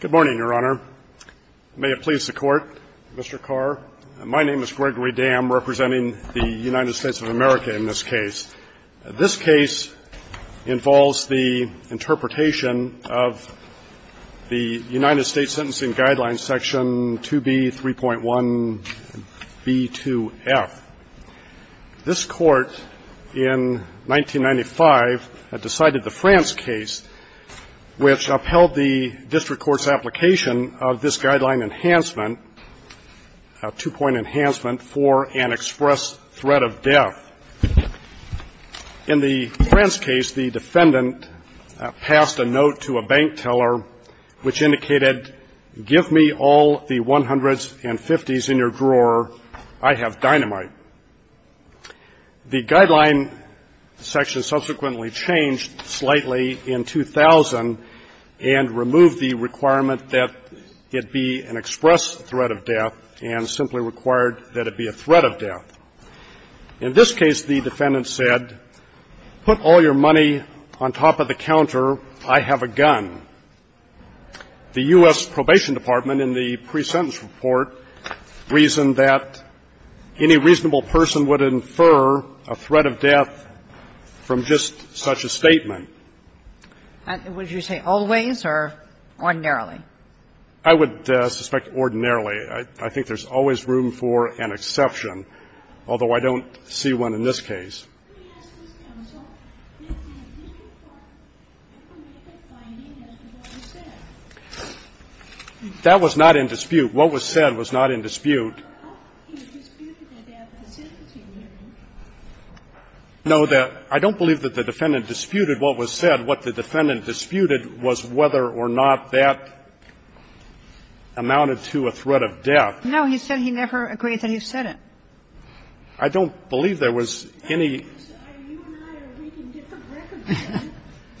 Good morning, Your Honor. May it please the Court, Mr. Carr. My name is Gregory Dam, representing the United States of America in this case. This case involves the interpretation of the United States Sentencing Guidelines Section 2B.3.1.B.2.F. This Court, in 1995, decided the France case, which upheld the district court's application of this guideline enhancement, a two-point enhancement, for an express threat of death. In the France case, the defendant passed a note to a bank teller which indicated, give me all the 100s and 50s in your drawer. I have dynamite. The guideline section subsequently changed slightly in 2000 and removed the requirement that it be an express threat of death and simply required that it be a threat of death. In this case, the defendant said, put all your money on top of the counter, I have a gun. The U.S. Probation Department in the pre-sentence report reasoned that any reasonable person would infer a threat of death from just such a statement. Would you say always or ordinarily? I would suspect ordinarily. I think there's always room for an exception, although I don't see one in this case. That was not in dispute. What was said was not in dispute. No, that – I don't believe that the defendant disputed what was said. What the defendant disputed was whether or not that amounted to a threat of death. No, he said he never agreed that he said it. I don't believe there was any –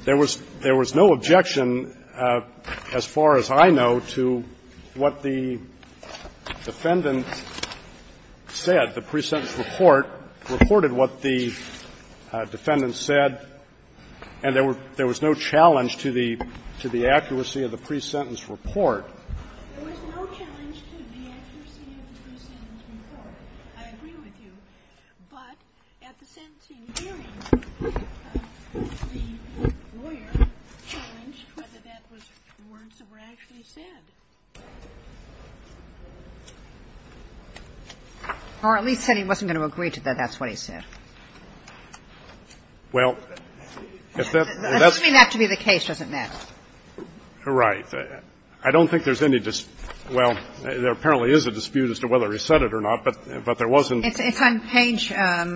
there was no objection, as far as I know, to what the defendant said. The pre-sentence report reported what the defendant said, and there was no challenge to the accuracy of the pre-sentence report. There was no challenge to the accuracy of the pre-sentence report. I agree with you. But at the sentencing hearing, the lawyer challenged whether that was words that were actually said. Or at least said he wasn't going to agree to that that's what he said. Well, if that's the case, it doesn't matter. Right. I don't think there's any – well, there apparently is a dispute as to whether he said it or not, but there wasn't. It's on page, I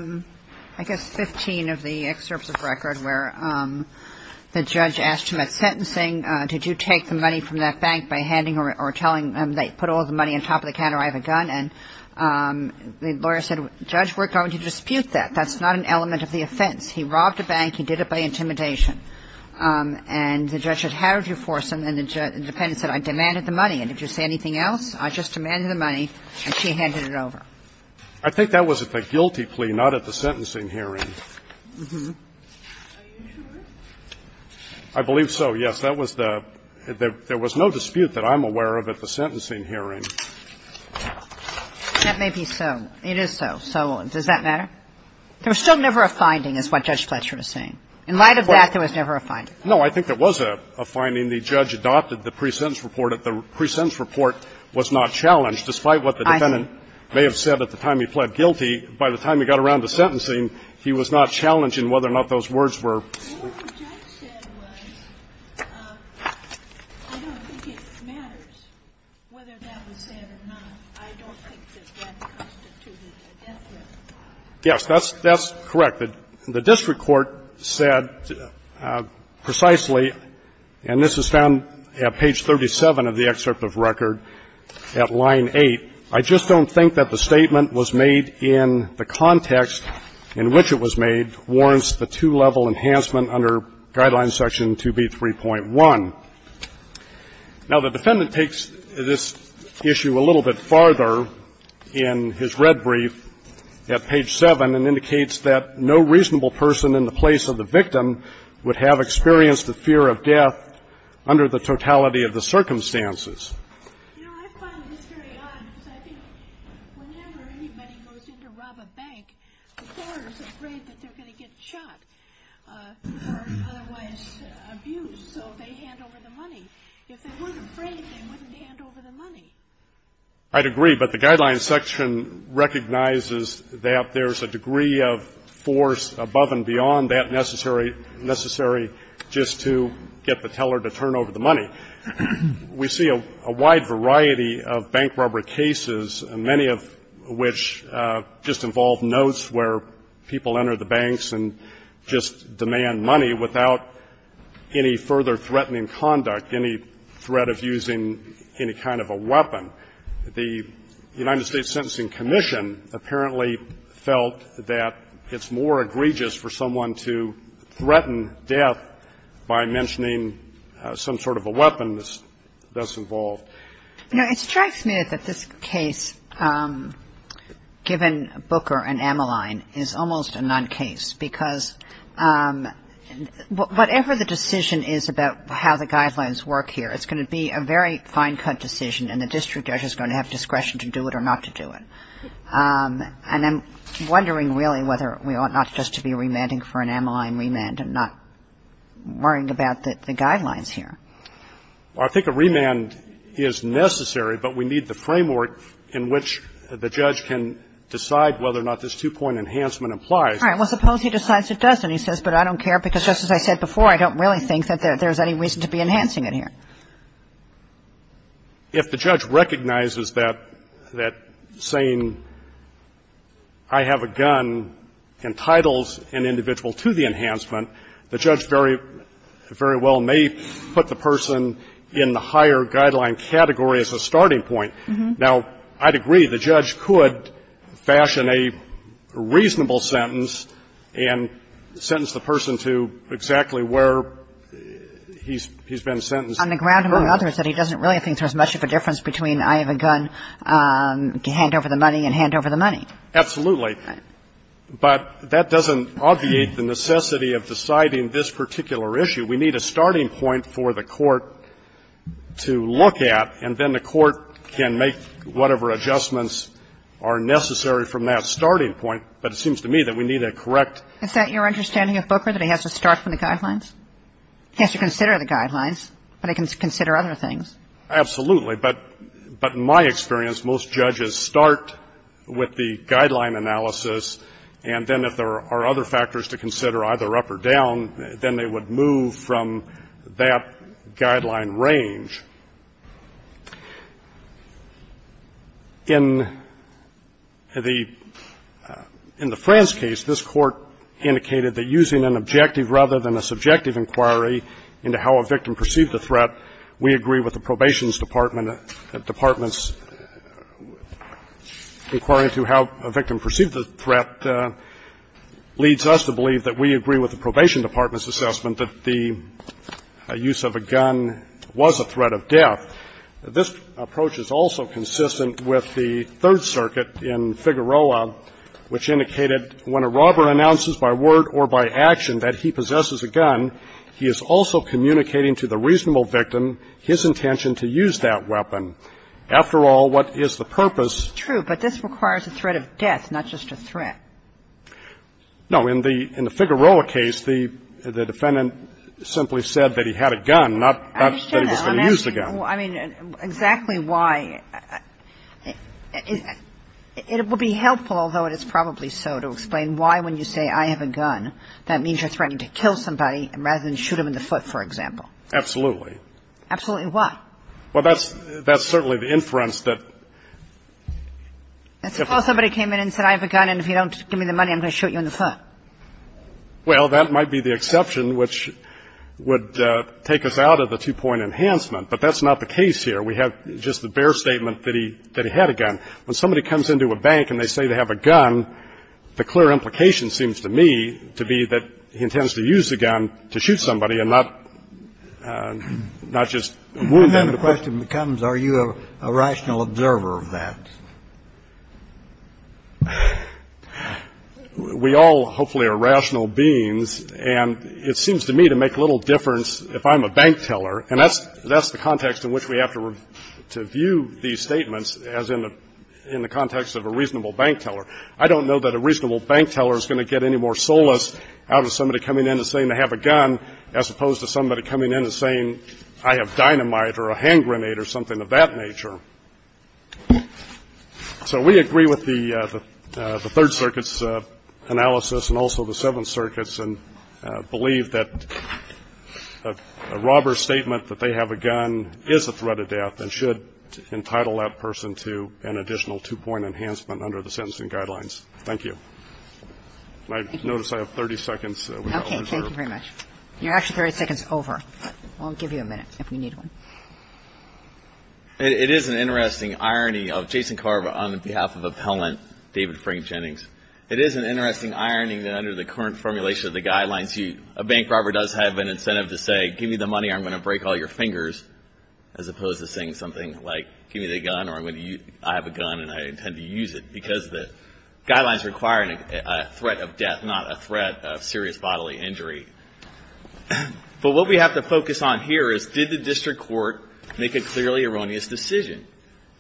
guess, 15 of the excerpts of record where the judge asked him at sentencing, did you take the money from that bank by handing or telling them they put all of the money on top of the counter, I have a gun. And the lawyer said, Judge, we're going to dispute that. That's not an element of the offense. He robbed a bank. He did it by intimidation. And the judge said, how did you force him? And the defendant said, I demanded the money. And did you say anything else? I just demanded the money, and she handed it over. I think that was at the guilty plea, not at the sentencing hearing. Are you sure? I believe so, yes. That was the – there was no dispute that I'm aware of at the sentencing hearing. That may be so. It is so. So does that matter? There was still never a finding is what Judge Fletcher was saying. In light of that, there was never a finding. No, I think there was a finding. The judge adopted the pre-sentence report. The pre-sentence report was not challenged, despite what the defendant may have said at the time he pled guilty. By the time he got around to sentencing, he was not challenging whether or not those words were – What the judge said was, I don't think it matters whether that was said or not. I don't think that that constituted a death threat. Yes, that's correct. The district court said precisely, and this is found at page 37 of the excerpt of record at line 8, I just don't think that the statement was made in the context in which it was made warrants the two-level enhancement under Guideline Section 2B3.1. Now, the defendant takes this issue a little bit farther in his red brief at page 7 and indicates that no reasonable person in the place of the victim would have experienced the fear of death under the totality of the circumstances. I'd agree, but the Guidelines section recognizes that there's a degree of force above and beyond that necessary – necessary just to get the teller to turn over the money. There's a wide variety of bank robber cases, many of which just involve notes where people enter the banks and just demand money without any further threatening conduct, any threat of using any kind of a weapon. The United States Sentencing Commission apparently felt that it's more egregious for someone to threaten death by mentioning some sort of a weapon that's involved. Now, it strikes me that this case, given Booker and Ameline, is almost a non-case, because whatever the decision is about how the Guidelines work here, it's going to be a very fine-cut decision, and the district judge is going to have discretion to do it or not to do it. And I'm wondering, really, whether we ought not just to be remanding for an Ameline remand and not worrying about the Guidelines here. Well, I think a remand is necessary, but we need the framework in which the judge can decide whether or not this two-point enhancement applies. All right. Well, suppose he decides it doesn't. He says, but I don't care, because just as I said before, I don't really think that there's any reason to be enhancing it here. If the judge recognizes that saying I have a gun entitles an individual to the enhancement, the judge very well may put the person in the higher Guideline category as a starting point. Now, I'd agree, the judge could fashion a reasonable sentence and sentence the person to exactly where he's been sentenced. On the ground, among others, that he doesn't really think there's much of a difference between I have a gun, hand over the money, and hand over the money. Absolutely. But that doesn't obviate the necessity of deciding this particular issue. We need a starting point for the Court to look at, and then the Court can make whatever adjustments are necessary from that starting point. But it seems to me that we need a correct ---- Is that your understanding of Booker, that he has to start from the Guidelines? He has to consider the Guidelines. But he can consider other things. Absolutely. But in my experience, most judges start with the Guideline analysis, and then if there are other factors to consider, either up or down, then they would move from that Guideline range. In the ---- in the France case, this Court indicated that using an objective rather than a subjective inquiry into how a victim perceived the threat, we agree with the Probation Department's inquiry into how a victim perceived the threat leads us to believe that we agree with the Probation Department's assessment that the use of a gun was a threat of death. This approach is also consistent with the Third Circuit in Figueroa, which indicated that when a robber announces by word or by action that he possesses a gun, he is also communicating to the reasonable victim his intention to use that weapon. After all, what is the purpose? True, but this requires a threat of death, not just a threat. No. In the Figueroa case, the defendant simply said that he had a gun, not that he was going to use the gun. I mean, exactly why ---- it would be helpful, although it is probably so, to explain why, when you say, I have a gun, that means you're threatening to kill somebody rather than shoot him in the foot, for example. Absolutely. Absolutely why? Well, that's certainly the inference that ---- That's suppose somebody came in and said, I have a gun, and if you don't give me the money, I'm going to shoot you in the foot. Well, that might be the exception which would take us out of the two-point enhancement. But that's not the case here. We have just the bare statement that he had a gun. When somebody comes into a bank and they say they have a gun, the clear implication seems to me to be that he intends to use the gun to shoot somebody and not just wound them in the foot. And then the question becomes, are you a rational observer of that? We all, hopefully, are rational beings, and it seems to me to make little difference if I'm a bank teller, and that's the context in which we have to view these statements as in the context of a reasonable bank teller. I don't know that a reasonable bank teller is going to get any more solace out of somebody coming in and saying they have a gun as opposed to somebody coming in and saying, I have dynamite or a hand grenade or something of that nature. So we agree with the Third Circuit's analysis and also the Seventh Circuit's and believe that a robber's statement that they have a gun is a threat of death and should entitle that person to an additional two-point enhancement under the sentencing guidelines. Thank you. I notice I have 30 seconds. Okay. Thank you very much. You're actually 30 seconds over. I'll give you a minute if we need one. It is an interesting irony of Jason Carver on behalf of appellant David Frank Jennings. It is an interesting irony that under the current formulation of the guidelines, a bank robber does have an incentive to say, give me the money or I'm going to break all your fingers as opposed to saying something like, give me the gun or I have a gun and I intend to use it because the guidelines require a threat of death, not a threat of serious bodily injury. But what we have to focus on here is did the district court make a clearly erroneous decision?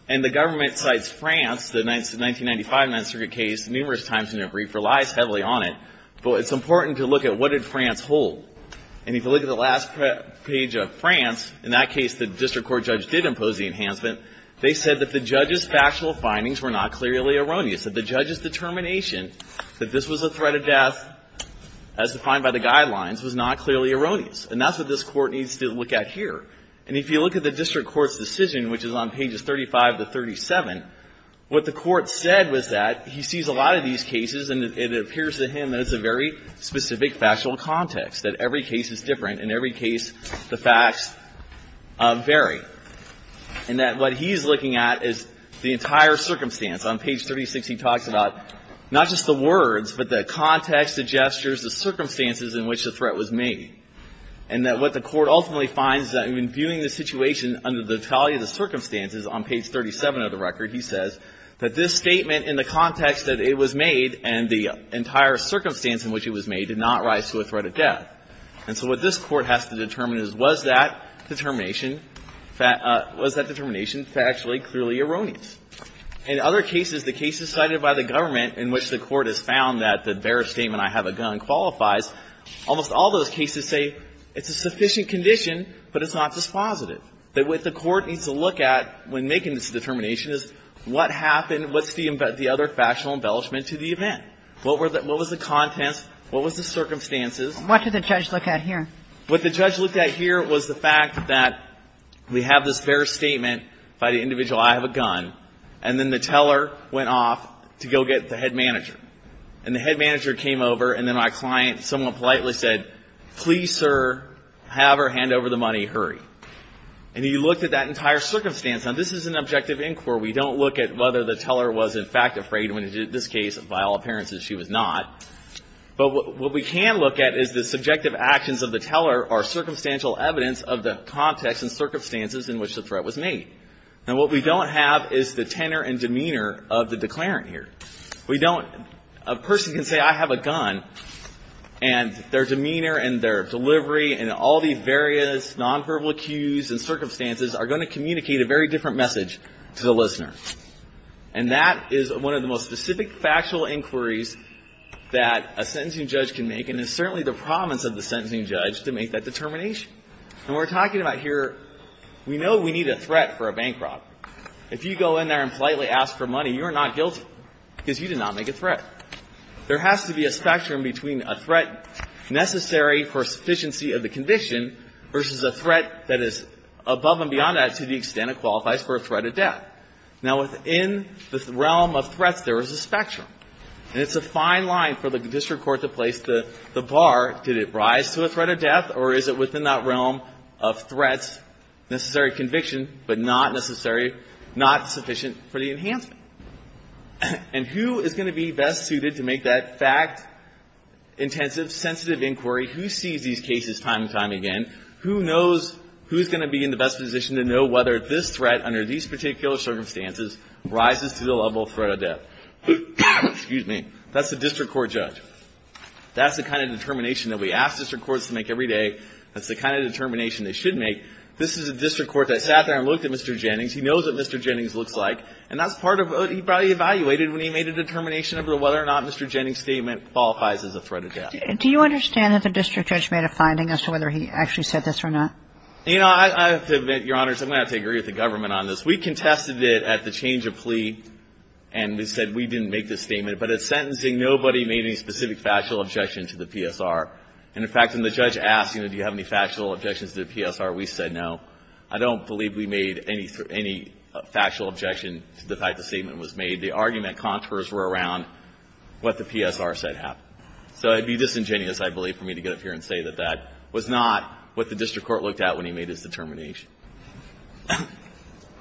And the government cites France, the 1995 Ninth Circuit case, numerous times in a brief relies heavily on it, but it's important to look at what did France hold? And if you look at the last page of France, in that case, the district court judge did impose the enhancement. They said that the judge's factual findings were not clearly erroneous, that the judge's determination that this was a threat of death as defined by the guidelines was not clearly erroneous. And that's what this court needs to look at here. And if you look at the district court's decision, which is on pages 35 to 37, what the court said was that he sees a lot of these cases and it appears to him that it's a very specific factual context, that every case is different and every case the facts vary. And that what he's looking at is the entire circumstance. On page 36, he talks about not just the words, but the context, the gestures, the circumstances in which the threat was made. And that what the court ultimately finds that in viewing the situation under the totality of the circumstances, on page 37 of the record, he says that this statement in the context that it was made and the entire circumstance in which it was made did not rise to a threat of death. And so what this court has to determine is, was that determination factually clearly erroneous? In other cases, the cases cited by the government in which the court has found that the bare statement, I have a gun, qualifies, almost all those cases say it's a sufficient condition, but it's not dispositive. That what the court needs to look at when making this determination is what happened, what's the other factual embellishment to the event? What were the – what was the context? What was the circumstances? What did the judge look at here? What the judge looked at here was the fact that we have this bare statement by the individual, I have a gun, and then the teller went off to go get the head manager. And the head manager came over and then my client somewhat politely said, please, sir, have her hand over the money, hurry. And he looked at that entire circumstance. Now, this is an objective inquiry. We don't look at whether the teller was in fact afraid when he did this case. By all appearances, she was not. But what we can look at is the subjective actions of the teller are circumstantial evidence of the context and circumstances in which the threat was made. And what we don't have is the tenor and demeanor of the declarant here. We don't – a person can say, I have a gun, and their demeanor and their delivery and all the various nonverbal cues and circumstances are going to communicate a very different message to the listener. And that is one of the most specific factual inquiries that a sentencing judge can make and is certainly the promise of the sentencing judge to make that determination. And we're talking about here – we know we need a threat for a bankrupt. If you go in there and politely ask for money, you're not guilty because you did not make a threat. There has to be a spectrum between a threat necessary for sufficiency of the conviction versus a threat that is above and beyond that to the extent it qualifies for a threat of death. Now, within the realm of threats, there is a spectrum. And it's a fine line for the district court to place the bar. Did it rise to a threat of death, or is it within that realm of threats, necessary conviction, but not necessary, not sufficient for the enhancement? And who is going to be best suited to make that fact-intensive, sensitive inquiry? Who sees these cases time and time again? Who knows who's going to be in the best position to know whether this threat under these particular circumstances rises to the level of threat of death? That's the district court judge. That's the kind of determination that we ask district courts to make every day. That's the kind of determination they should make. This is a district court that sat there and looked at Mr. Jennings. He knows what Mr. Jennings looks like. And that's part of what he probably evaluated when he made a determination about whether or not Mr. Jennings' statement qualifies as a threat of death. Do you understand that the district judge made a finding as to whether he actually said this or not? You know, I have to admit, Your Honors, I'm going to have to agree with the government on this. We contested it at the change of plea, and we said we didn't make this statement. But at sentencing, nobody made any specific factual objection to the PSR. And, in fact, when the judge asked, you know, do you have any factual objections to the PSR, we said no. I don't believe we made any factual objection to the fact the statement was made. The argument contours were around what the PSR said happened. So it would be disingenuous, I believe, for me to get up here and say that that was not what the district court looked at when he made his determination.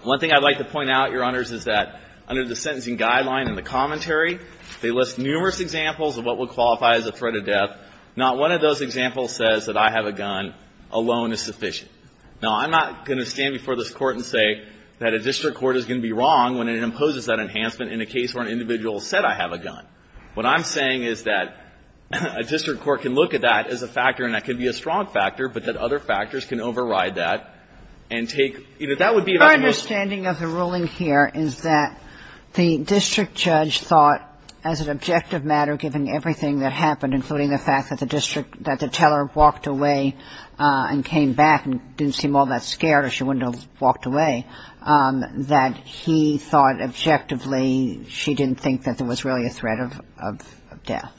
One thing I'd like to point out, Your Honors, is that under the sentencing guideline and the commentary, they list numerous examples of what would qualify as a threat of death. Not one of those examples says that I have a gun alone is sufficient. Now, I'm not going to stand before this Court and say that a district court is going to be wrong when it imposes that enhancement in a case where an individual said, I have a gun. What I'm saying is that a district court can look at that as a factor, and that could be a strong factor, but that other factors can override that and take, you know, that would be about the most — My understanding of the ruling here is that the district judge thought, as an objective matter, given everything that happened, including the fact that the district — that the teller walked away and came back and didn't seem all that scared or she wouldn't have walked away, that he thought objectively she didn't think that there was really a threat of death.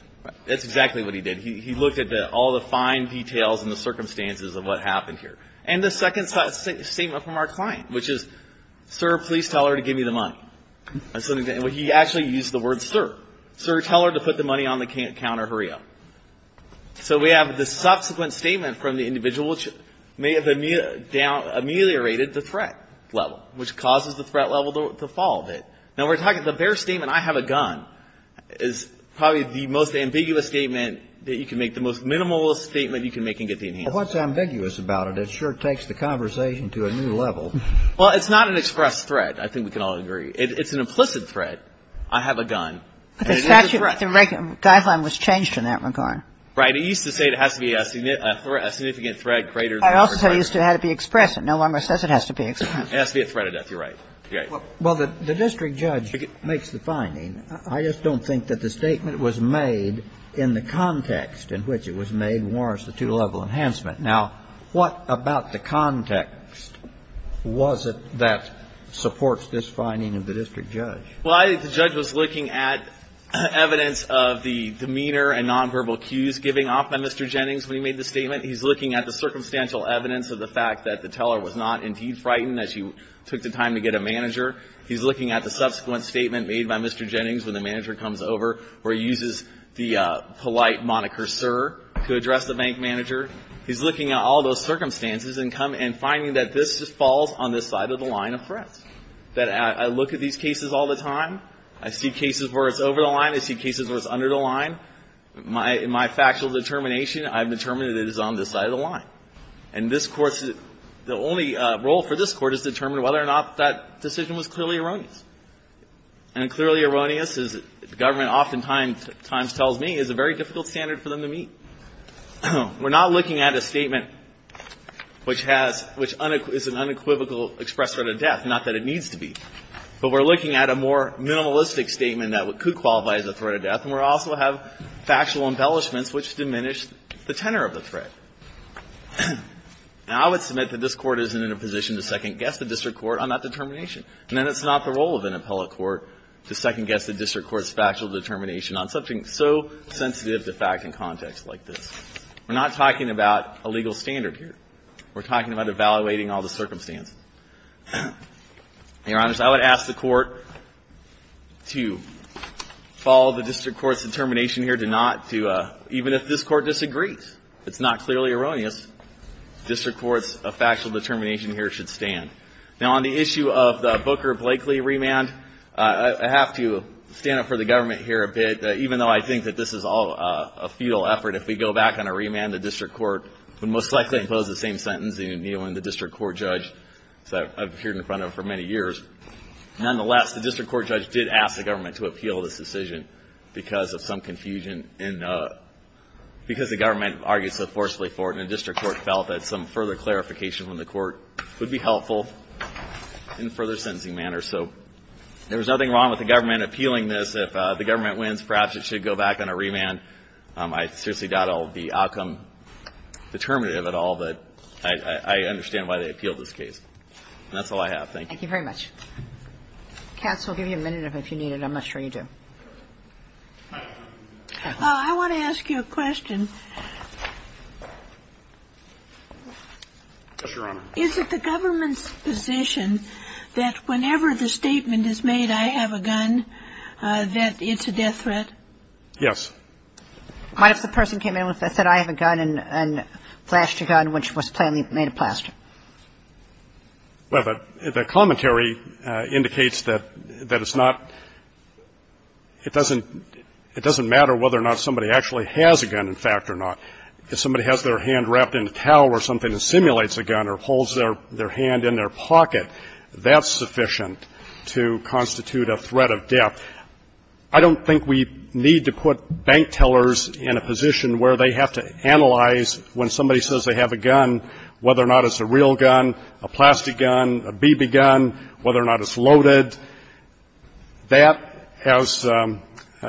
That's exactly what he did. He looked at all the fine details and the circumstances of what happened here. And the second statement from our client, which is, sir, please tell her to give me the money. And he actually used the word, sir. Sir, tell her to put the money on the counter. Hurry up. So we have the subsequent statement from the individual which may have ameliorated the threat level, which causes the threat level to fall a bit. Now, we're talking — the bare statement, I have a gun, is probably the most ambiguous statement that you can make, the most minimalist statement you can make and get the enhancement. Well, what's ambiguous about it? It sure takes the conversation to a new level. Well, it's not an express threat. I think we can all agree. It's an implicit threat. I have a gun. But the statute — the guideline was changed in that regard. Right. It used to say it has to be a significant threat greater than or equal to — I also said it used to have to be express. No longer says it has to be express. It has to be a threat of death. You're right. You're right. Well, the district judge makes the finding. I just don't think that the statement was made in the context in which it was made warrants the two-level enhancement. Now, what about the context was it that supports this finding of the district judge? Well, I think the judge was looking at evidence of the demeanor and nonverbal cues giving off by Mr. Jennings when he made the statement. He's looking at the circumstantial evidence of the fact that the teller was not indeed frightened as he took the time to get a manager. He's looking at the subsequent statement made by Mr. Jennings when the manager comes over where he uses the polite moniker, sir, to address the bank manager. He's looking at all those circumstances and coming — and finding that this falls on this side of the line of threats, that I look at these cases all the time. I see cases where it's over the line. I see cases where it's under the line. In my factual determination, I've determined that it is on this side of the line. And this Court's — the only role for this Court is to determine whether or not that decision was clearly erroneous. And clearly erroneous, as the government oftentimes tells me, is a very difficult standard for them to meet. We're not looking at a statement which has — which is an unequivocal express threat of death, not that it needs to be. But we're looking at a more minimalistic statement that could qualify as a threat of death. And we also have factual embellishments which diminish the tenor of the threat. Now, I would submit that this Court isn't in a position to second-guess the district court on that determination. And then it's not the role of an appellate court to second-guess the district court's factual determination on something so sensitive to fact and context like this. We're not talking about a legal standard here. We're talking about evaluating all the circumstances. Your Honors, I would ask the Court to follow the district court's determination here to not do a — even if this Court disagrees, if it's not clearly erroneous, district court's factual determination here should stand. Now, on the issue of the Booker-Blakely remand, I have to stand up for the government here a bit. Even though I think that this is all a futile effort, if we go back on a remand, the district court would most likely impose the same sentence and kneel in the district court judge that I've appeared in front of for many years. Nonetheless, the district court judge did ask the government to appeal this decision because of some confusion in — because the government argued so forcefully for it. And the district court felt that some further clarification from the court would be helpful in a further sentencing manner. So there was nothing wrong with the government appealing this. If the government wins, perhaps it should go back on a remand. I seriously doubt all of the outcome determinative at all, but I understand why they appealed this case. And that's all I have. Thank you. Thank you very much. Katz, we'll give you a minute if you need it. I'm not sure you do. I want to ask you a question. Yes, Your Honor. Is it the government's position that whenever the statement is made, I have a gun, that it's a death threat? Yes. What if the person came in and said, I have a gun, a plaster gun, which was plainly made of plaster? Well, the commentary indicates that it's not — it doesn't matter whether or not somebody actually has a gun, in fact, or not. If somebody has their hand wrapped in a towel or something that simulates a gun or holds their hand in their pocket, that's sufficient to constitute a threat of death. I don't think we need to put bank tellers in a position where they have to analyze when somebody says they have a gun, whether or not it's a real gun, a plastic gun, a BB gun, whether or not it's loaded. That, as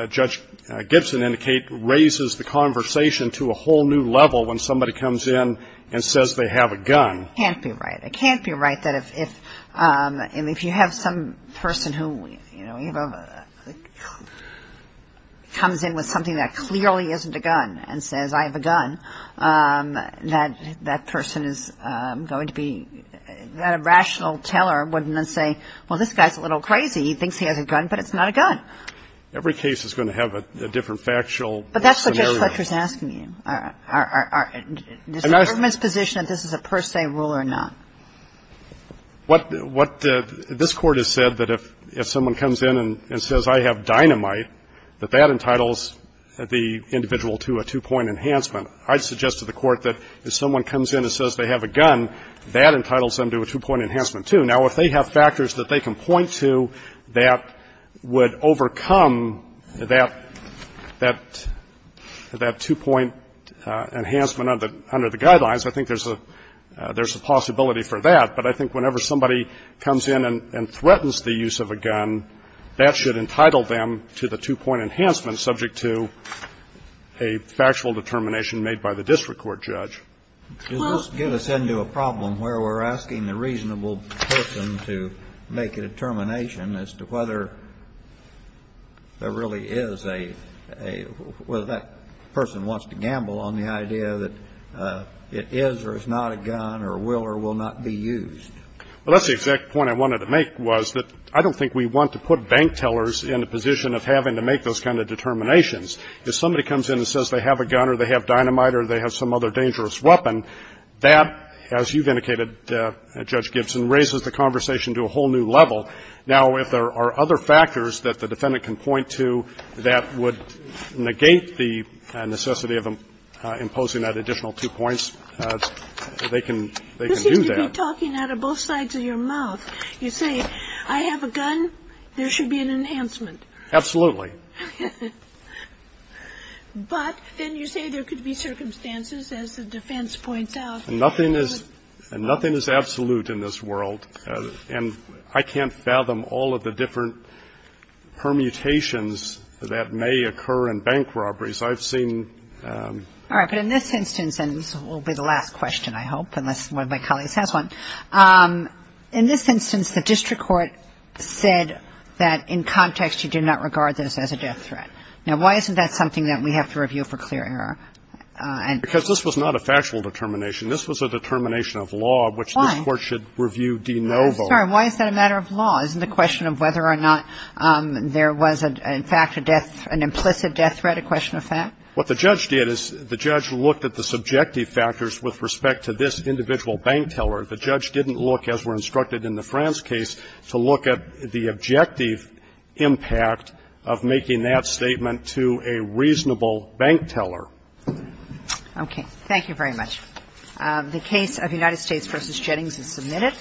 Judge Gibson indicated, raises the conversation to a whole other level. It's a whole new level when somebody comes in and says they have a gun. It can't be right. It can't be right that if — and if you have some person who, you know, comes in with something that clearly isn't a gun and says, I have a gun, that that person is going to be — that rational teller wouldn't say, well, this guy's a little crazy. He thinks he has a gun, but it's not a gun. Every case is going to have a different factual scenario. But that's what Judge Fletcher is asking you. Are — does the government's position that this is a per se rule or not? What the — this Court has said that if someone comes in and says, I have dynamite, that that entitles the individual to a two-point enhancement. I'd suggest to the Court that if someone comes in and says they have a gun, that entitles them to a two-point enhancement, too. Now, if they have factors that they can point to that would overcome that — that two-point enhancement under the guidelines, I think there's a — there's a possibility for that. But I think whenever somebody comes in and threatens the use of a gun, that should entitle them to the two-point enhancement subject to a factual determination made by the district court judge. Well — Kennedy. Does this get us into a problem where we're asking the reasonable person to make a determination as to whether there really is a — a — whether that person wants to gamble on the idea that it is or is not a gun or will or will not be used? Well, that's the exact point I wanted to make, was that I don't think we want to put bank tellers in a position of having to make those kind of determinations. If somebody comes in and says they have a gun or they have dynamite or they have some other dangerous weapon, that, as you've indicated, Judge Gibson, raises the conversation to a whole new level. Now, if there are other factors that the defendant can point to that would negate the necessity of imposing that additional two points, they can — they can do that. This seems to be talking out of both sides of your mouth. You say, I have a gun. There should be an enhancement. Absolutely. But then you say there could be circumstances, as the defense points out. Nothing is — nothing is absolute in this world. And I can't fathom all of the different permutations that may occur in bank robberies. I've seen — All right. But in this instance — and this will be the last question, I hope, unless one of my colleagues has one — in this instance, the district court said that, in context, you do not regard this as a death threat. Now, why isn't that something that we have to review for clear error? Because this was not a factual determination. This was a determination of law — Why? This Court should review de novo. I'm sorry. Why is that a matter of law? Isn't the question of whether or not there was, in fact, a death — an implicit death threat a question of fact? What the judge did is the judge looked at the subjective factors with respect to this individual bank teller. The judge didn't look, as we're instructed in the France case, to look at the objective impact of making that statement to a reasonable bank teller. Okay. Thank you very much. The case of United States v. Jennings is submitted.